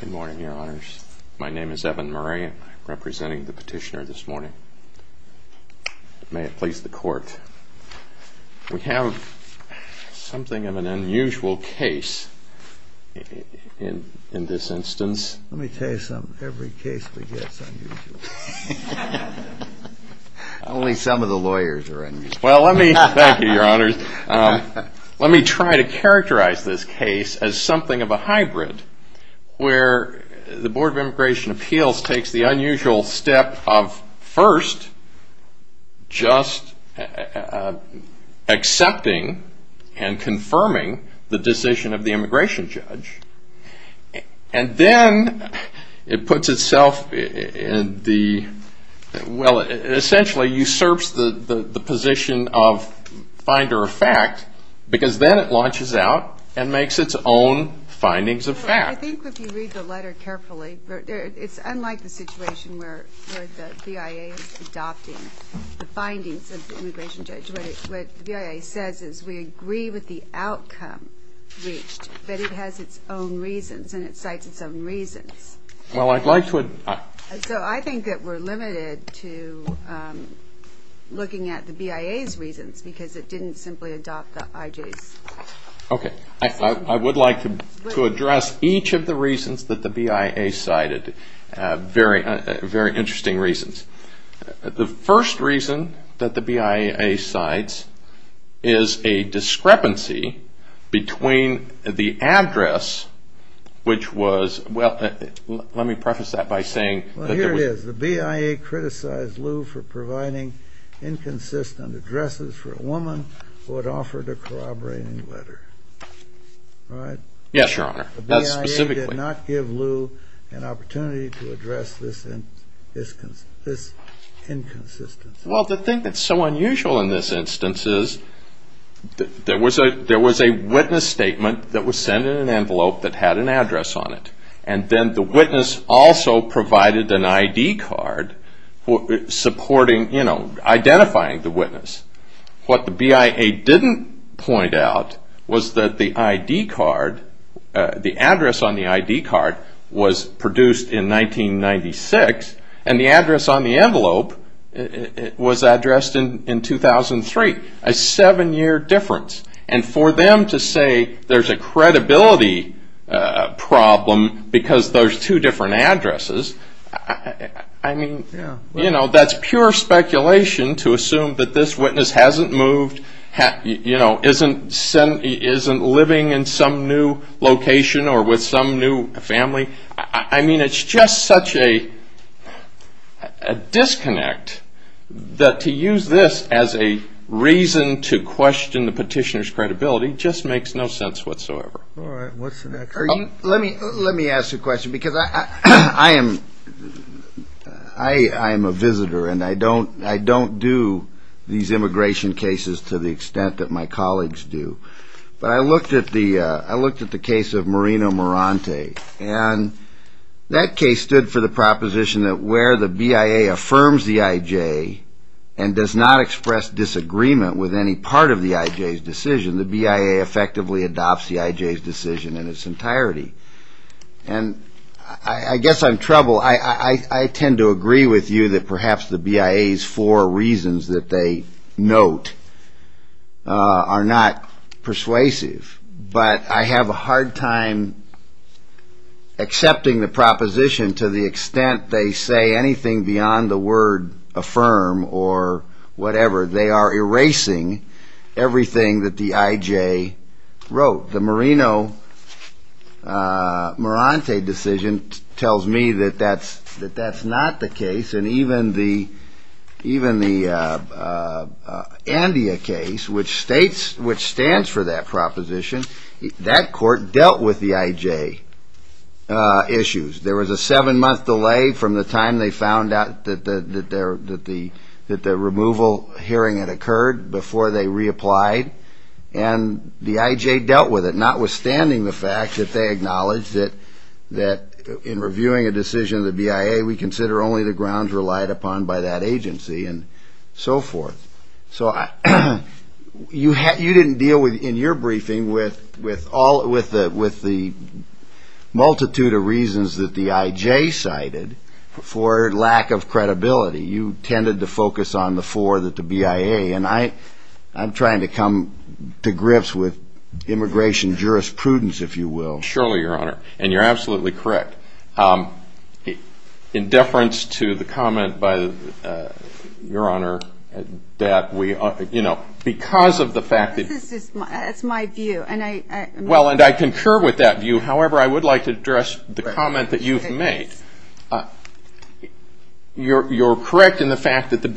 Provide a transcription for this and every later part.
Good morning, Your Honors. My name is Evan Murray. I'm representing the petitioner this morning. May it please the Court, we have something of an unusual case in this instance. Let me tell you something, every case begets unusual. Only some of the lawyers are unusual. Thank you, Your Honors. Let me try to characterize this case as something of a hybrid where the Board of Immigration Appeals takes the unusual step of first just accepting and confirming the decision of the immigration judge. And then it puts itself in the, well, essentially usurps the position of finder of fact because then it launches out and makes its own findings of fact. I think if you read the letter carefully, it's unlike the situation where the BIA is adopting the findings of the immigration judge. What the BIA says is we agree with the outcome reached, but it has its own reasons and it cites its own reasons. So I think that we're limited to looking at the BIA's reasons because it didn't simply adopt the IJ's. Okay, I would like to address each of the reasons that the BIA cited, very interesting reasons. The first reason that the BIA cites is a discrepancy between the address, which was, well, let me preface that by saying that there was... Well, here it is. The BIA criticized Lew for providing inconsistent addresses for a woman who had offered a corroborating letter. Right? Yes, Your Honor. That's specifically... Well, the thing that's so unusual in this instance is there was a witness statement that was sent in an envelope that had an address on it. And then the witness also provided an ID card supporting, you know, identifying the witness. What the BIA didn't point out was that the address on the ID card was produced in 1996 and the address on the envelope was addressed in 2003. A seven year difference. And for them to say there's a credibility problem because there's two different addresses, I mean, you know, that's pure speculation to assume that this is some new family. I mean, it's just such a disconnect that to use this as a reason to question the petitioner's credibility just makes no sense whatsoever. All right. What's the next one? Let me ask a question because I am a visitor and I don't do these immigration cases to the extent that my colleagues do. But I looked at the case of Marino Morante and that case stood for the proposition that where the BIA affirms the IJ and does not express disagreement with any part of the IJ's decision, the BIA effectively adopts the IJ's decision in its entirety. And I guess I'm trouble. I tend to agree with you that perhaps the BIA's four reasons that they note are not persuasive. But I have a hard time accepting the proposition to the extent they say anything beyond the word affirm or whatever. They are erasing everything that the IJ wrote. The Marino Morante decision tells me that that's not the case. And even the Andea case, which stands for that proposition, that court dealt with the IJ issues. There was a seven-month delay from the time they found out that the removal hearing had occurred before they reapplied. And the IJ dealt with it, notwithstanding the fact that they acknowledged that in reviewing a decision of the BIA, we consider only the grounds relied upon by that agency and so forth. So you didn't deal in your briefing with the multitude of reasons that the IJ cited for lack of credibility. You tended to focus on the four that the BIA. And I'm trying to come to grips with immigration jurisprudence, if you will. Surely, Your Honor. And you're absolutely correct. In deference to the comment by Your Honor, that we, you know, because of the fact that. This is my view. And I. Well, and I concur with that view. However, I would like to address the comment that you've made. You're correct in the fact that the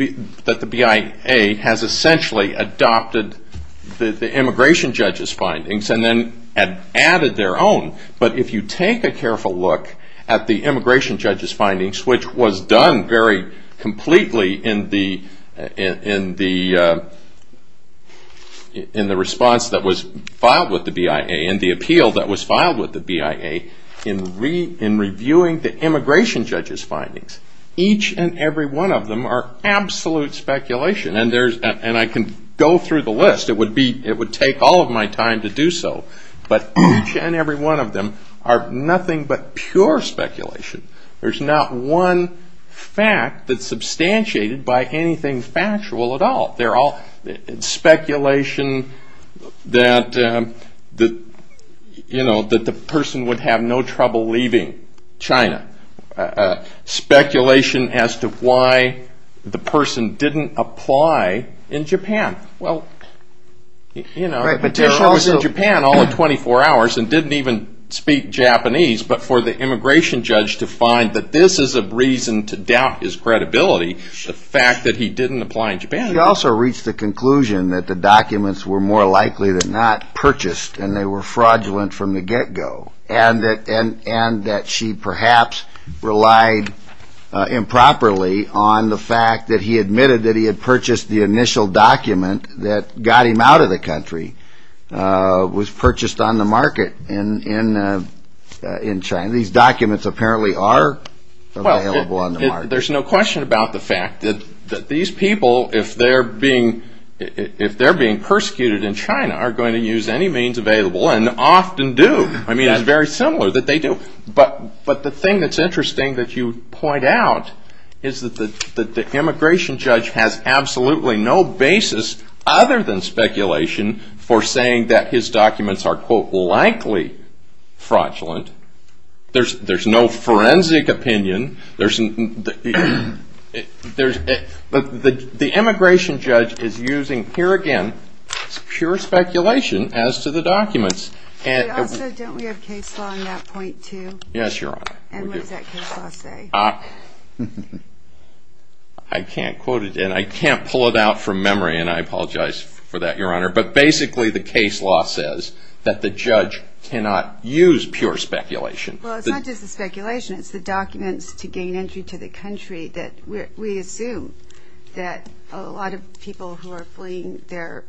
that the BIA has essentially adopted the immigration judge's findings and then added their own. But if you take a careful look at the immigration judge's findings, which was done very completely in the response that was filed with the BIA and the appeal that was filed with the BIA in reviewing the immigration judge's findings, each and every one of them are absolute speculation. And I can go through the list. It would take all of my time to do so. But each and every one of them are nothing but pure speculation. There's not one fact that's substantiated by anything factual at all. They're all speculation that the you know, that the person would have no trouble leaving China. Speculation as to why the person didn't apply in Japan. Well, you know, petitioners in Japan all in 24 hours and didn't even speak Japanese. But for the immigration judge to find that this is a reason to doubt his credibility, the fact that he didn't apply in Japan. He also reached the conclusion that the documents were more likely than not purchased and they were fraudulent from the get go. And that she perhaps relied improperly on the fact that he admitted that he had purchased the initial document that got him out of the country. Was purchased on the market in China. These documents apparently are available on the market. There's no question about the fact that these people, if they're being persecuted in China, are going to use any means available and often do. I mean, it's very similar that they do. But the thing that's interesting that you point out is that the immigration judge has absolutely no basis other than speculation for saying that his documents are quote, likely fraudulent. There's no forensic opinion. The immigration judge is using, here again, pure speculation as to the documents. But also, don't we have case law on that point too? Yes, Your Honor. And what does that case law say? I can't quote it and I can't pull it out from memory and I apologize for that, Your Honor. But basically, the case law says that the judge cannot use pure speculation. Well, it's not just the speculation. It's the documents to gain entry to the country that we assume that a lot of people who are fleeing their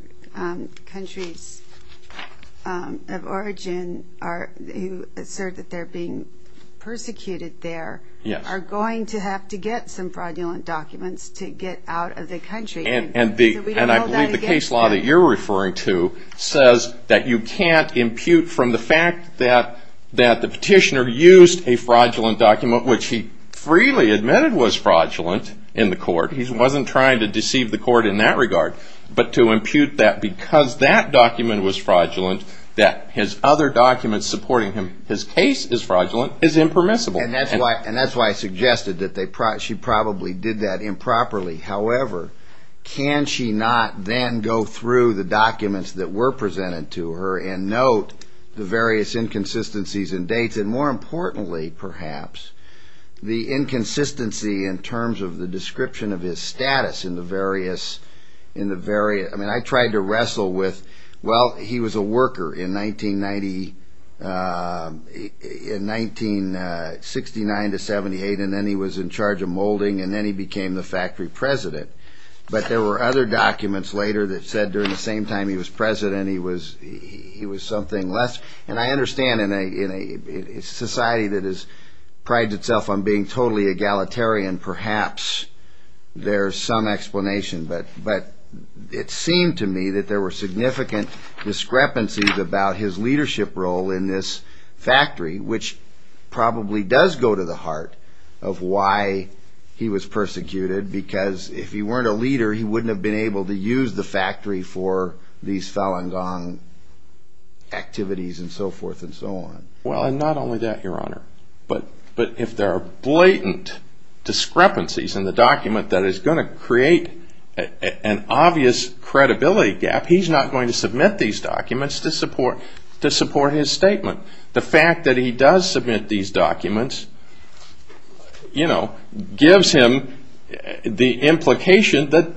countries of origin, who assert that they're being persecuted there, are going to have to get some fraudulent documents to get out of the country. And I believe the case law that you're referring to says that you can't impute from the fact that the petitioner used a fraudulent document, which he freely admitted was fraudulent in the court. He wasn't trying to deceive the court in that regard. But to impute that because that document was fraudulent, that his other documents supporting him, his case is fraudulent, is impermissible. And that's why I suggested that she probably did that improperly. However, can she not then go through the documents that were presented to her and note the various inconsistencies and dates? And more importantly, perhaps, the inconsistency in terms of the description of his status in the various, in the very, I mean, I tried to wrestle with, well, he was a worker in 1990, in 1969 to 78. And then he was in charge of molding. And then he became the factory president. But there were other documents later that said during the same time he was president, he was something less. And I understand in a society that prides itself on being totally egalitarian, perhaps there's some explanation. But it seemed to me that there were significant discrepancies about his leadership role in this factory, which probably does go to the heart of why he was persecuted. Because if he weren't a leader, he wouldn't have been able to use the factory for these Falun Gong activities and so forth and so on. Well, and not only that, Your Honor, but if there are blatant discrepancies in the document that is going to create an obvious credibility gap, he's not going to submit these documents to support his statement. The fact that he does submit these documents, you know, gives him the implication that,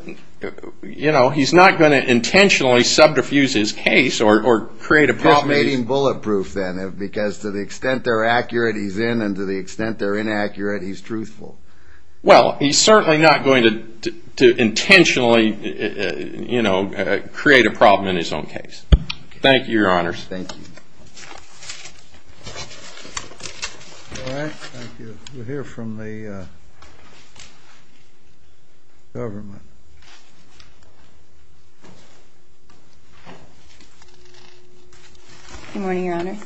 you know, he's not going to intentionally subdiffuse his case or create a problem. He's not making bulletproof, then, because to the extent they're accurate, he's in, and to the extent they're inaccurate, he's truthful. Well, he's certainly not going to intentionally, you know, create a problem in his own case. Thank you, Your Honors. Thank you. All right. Thank you. We'll hear from the government. Good morning, Your Honor.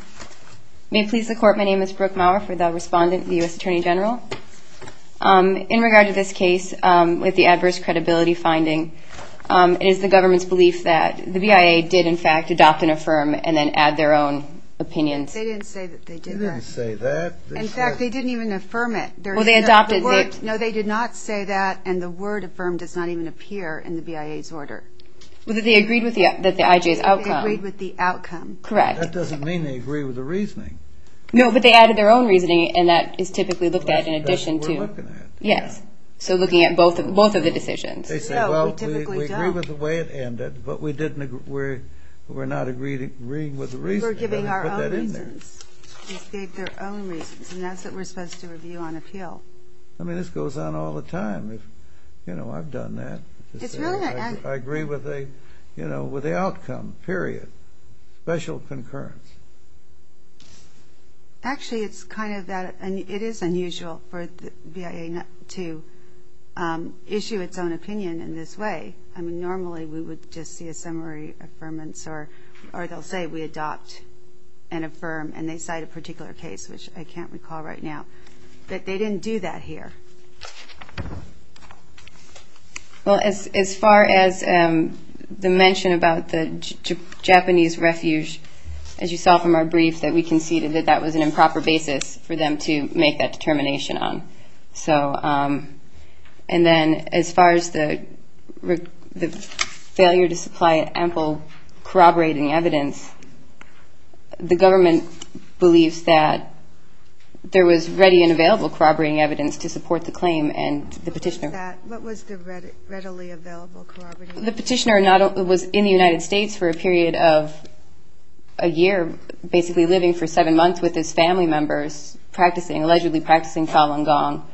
May it please the Court, my name is Brooke Maurer for the respondent, the U.S. Attorney General. In regard to this case, with the adverse credibility finding, it is the government's belief that the BIA did, in fact, adopt and affirm and then add their own. They didn't say that they did that. They didn't say that. In fact, they didn't even affirm it. Well, they adopted it. No, they did not say that, and the word affirm does not even appear in the BIA's order. Well, they agreed with the IJ's outcome. They agreed with the outcome. Correct. That doesn't mean they agree with the reasoning. No, but they added their own reasoning, and that is typically looked at in addition to. That's what we're looking at. Yes. So looking at both of the decisions. No, we typically don't. They say, well, we agree with the way it ended, but we're not agreeing with the reasoning. We're giving our own reasons. They put that in there. They gave their own reasons, and that's what we're supposed to review on appeal. I mean, this goes on all the time. You know, I've done that. It's really not that. I agree with the outcome, period, special concurrence. Actually, it's kind of that. It is unusual for the BIA to issue its own opinion in this way. I mean, normally we would just see a summary affirmance, or they'll say we adopt and affirm, and they cite a particular case, which I can't recall right now. But they didn't do that here. Well, as far as the mention about the Japanese refuge, as you saw from our brief, that we conceded that that was an improper basis for them to make that determination on. And then as far as the failure to supply ample corroborating evidence, the government believes that there was ready and available corroborating evidence to support the claim and the petitioner. What was the readily available corroborating evidence? The petitioner was in the United States for a period of a year, basically living for seven months with his family members, allegedly practicing Falun Gong.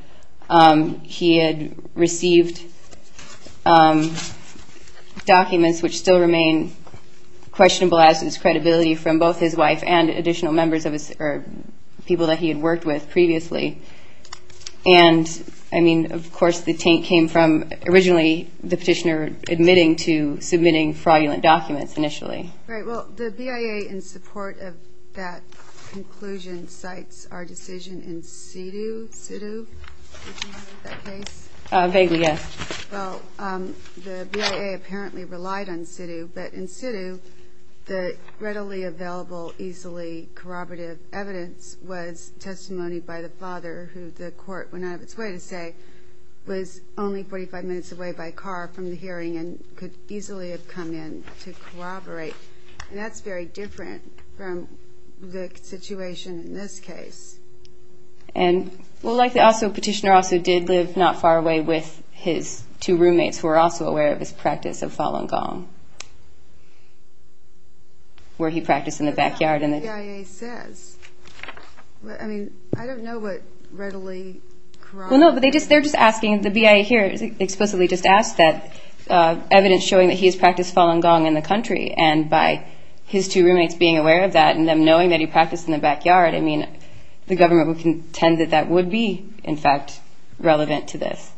He had received documents, which still remain questionable as to his credibility, from both his wife and additional people that he had worked with previously. And, I mean, of course the taint came from originally the petitioner admitting to submitting fraudulent documents initially. All right. Well, the BIA, in support of that conclusion, cites our decision in situ. Do you remember that case? Vaguely, yes. Well, the BIA apparently relied on situ. But in situ, the readily available, easily corroborative evidence was testimony by the father, who the court went out of its way to say was only 45 minutes away by car from the hearing and could easily have come in to corroborate. And that's very different from the situation in this case. Well, likely also petitioner also did live not far away with his two roommates who were also aware of his practice of Falun Gong, where he practiced in the backyard. But that's not what the BIA says. Well, no, but they're just asking, the BIA here explicitly just asked that, evidence showing that he has practiced Falun Gong in the country, and by his two roommates being aware of that and them knowing that he practiced in the backyard, I mean, the government would contend that that would be, in fact, relevant to this.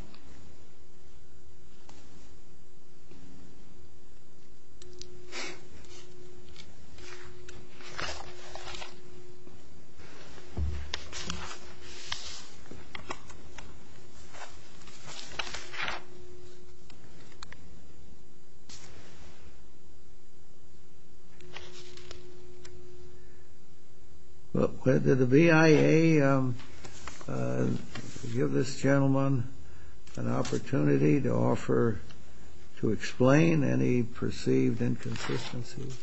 Well, did the BIA give this gentleman an opportunity to offer, to explain any perceived inconsistencies?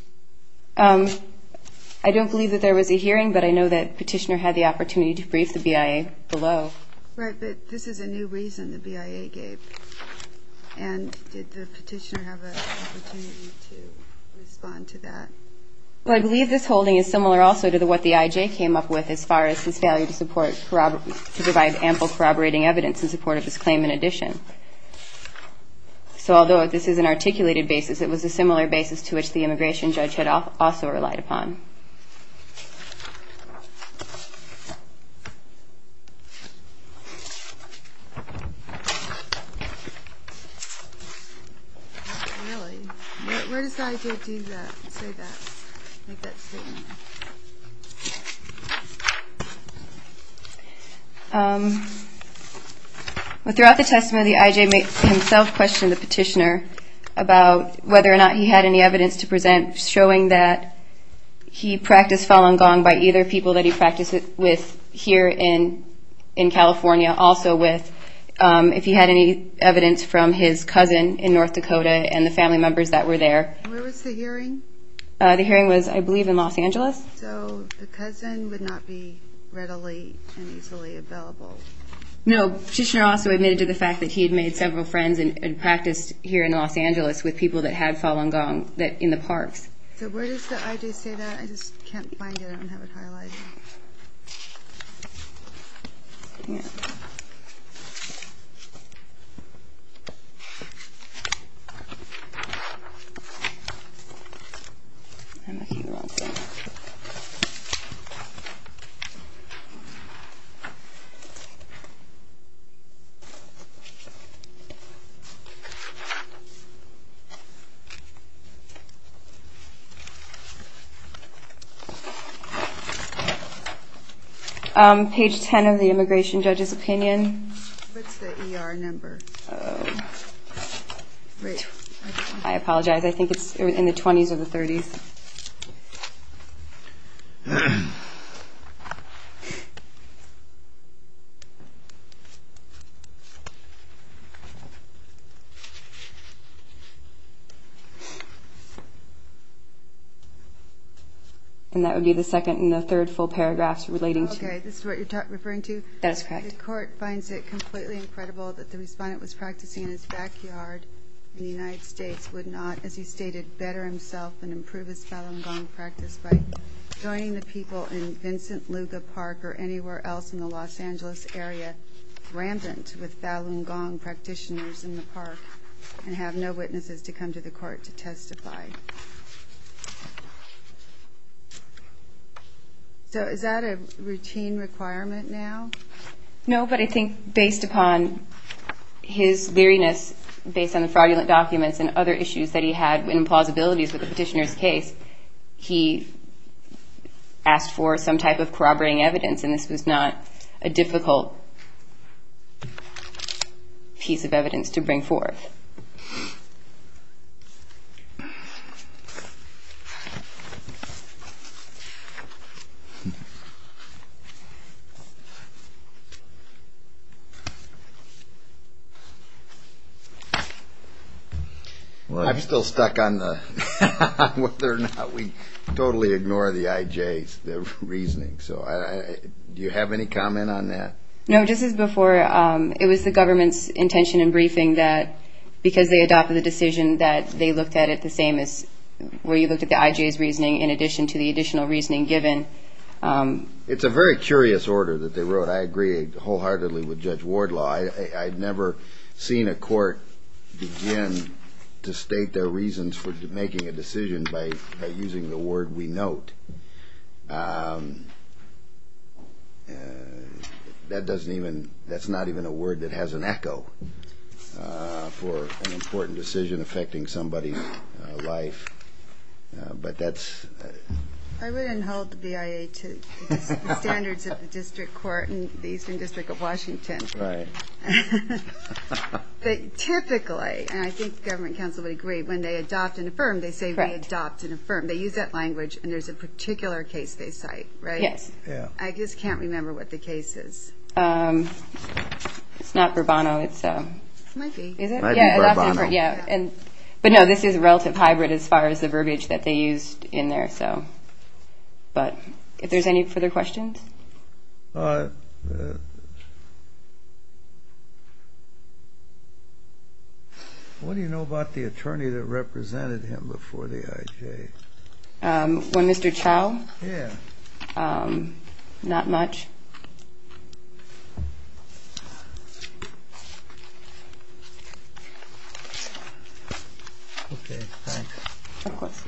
I don't believe that there was a hearing, but I know that petitioner had the opportunity to brief the BIA below. Right, but this is a new reason the BIA gave. And did the petitioner have an opportunity to respond to that? Well, I believe this holding is similar also to what the IJ came up with as far as his failure to provide ample corroborating evidence in support of his claim in addition. So although this is an articulated basis, it was a similar basis to which the immigration judge had also relied upon. Really? Where does the IJ do that, say that, make that statement? Well, throughout the testimony, the IJ himself questioned the petitioner about whether or not he had any evidence to present showing that he practiced Falun Gong by either people that he practiced it with here in California, also with if he had any evidence from his cousin in North Dakota and the family members that were there. Where was the hearing? The hearing was, I believe, in Los Angeles. So the cousin would not be readily and easily available. No, petitioner also admitted to the fact that he had made several friends and practiced here in Los Angeles with people that had Falun Gong in the parks. So where does the IJ say that? I just can't find it. I don't have it highlighted. Page 10 of the immigration judge's opinion. What's the ER number? I apologize. I think it's in the 20s or the 30s. And that would be the second and the third full paragraphs relating to... Okay, this is what you're referring to? That is correct. The court finds it completely incredible that the respondent was practicing in his backyard in the United States, would not, as he stated, better himself and improve his Falun Gong practice by joining the people in Vincent Luga Park or anywhere else in the Los Angeles area with Falun Gong practitioners in the park and have no witnesses to come to the court to testify. So is that a routine requirement now? No, but I think based upon his leeriness, based on the fraudulent documents and other issues that he had and plausibilities with the petitioner's case, he asked for some type of corroborating evidence. And this was not a difficult piece of evidence to bring forth. I'm still stuck on whether or not we totally ignore the IJ's reasoning. Do you have any comment on that? No, just as before, it was the government's intention in briefing that because they adopted the decision that they looked at it the same as where you looked at the IJ's reasoning in addition to the additional reasoning given. It's a very curious order that they wrote. I agree wholeheartedly with Judge Wardlaw. I've never seen a court begin to state their reasons for making a decision by using the word we note. That doesn't even, that's not even a word that has an echo for an important decision affecting somebody's life. But that's... I wouldn't hold the BIA to the standards of the District Court and the Eastern District of Washington. Right. But typically, and I think the government counsel would agree, when they adopt and affirm, they say we adopt and affirm. They use that language and there's a particular case they cite, right? Yes. I just can't remember what the case is. It's not Bourbono, it's... It might be. It might be Bourbono. But no, this is relative hybrid as far as the verbiage that they used in there. But if there's any further questions? What do you know about the attorney that represented him before the IJ? When Mr. Chow? Yeah. Not much. Okay, thanks. Of course.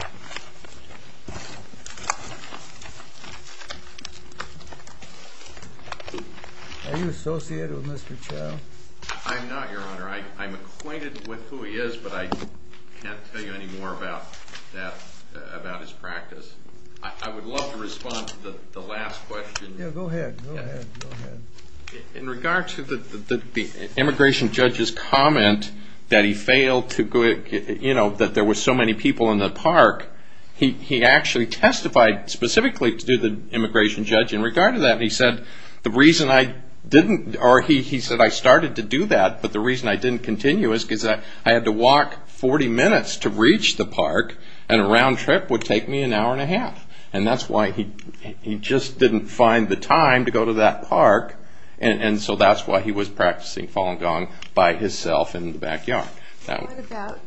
Are you associated with Mr. Chow? I'm not, Your Honor. I'm acquainted with who he is, but I can't tell you any more about that, about his practice. I would love to respond to the last question. Yeah, go ahead, go ahead. In regard to the immigration judge's comment that he failed to, you know, that there were so many people in the park, he actually testified specifically to the immigration judge in regard to that. He said the reason I didn't, or he said I started to do that, but the reason I didn't continue is because I had to walk 40 minutes to reach the park, and a round trip would take me an hour and a half. And that's why he just didn't find the time to go to that park, and so that's why he was practicing Falun Gong by himself in the backyard. What about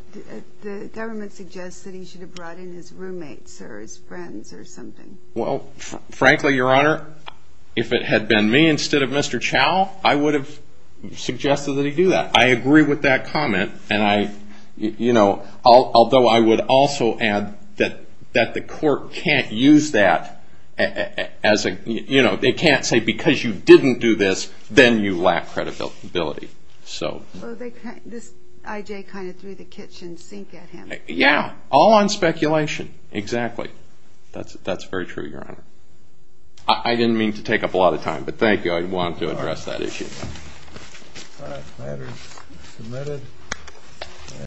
the government suggests that he should have brought in his roommates or his friends or something? Well, frankly, Your Honor, if it had been me instead of Mr. Chow, I would have suggested that he do that. I agree with that comment, and I, you know, although I would also add that the court can't use that as a, you know, they can't say because you didn't do this, then you lack credibility. So this I.J. kind of threw the kitchen sink at him. Yeah, all on speculation, exactly. That's very true, Your Honor. I didn't mean to take up a lot of time, but thank you. I wanted to address that issue.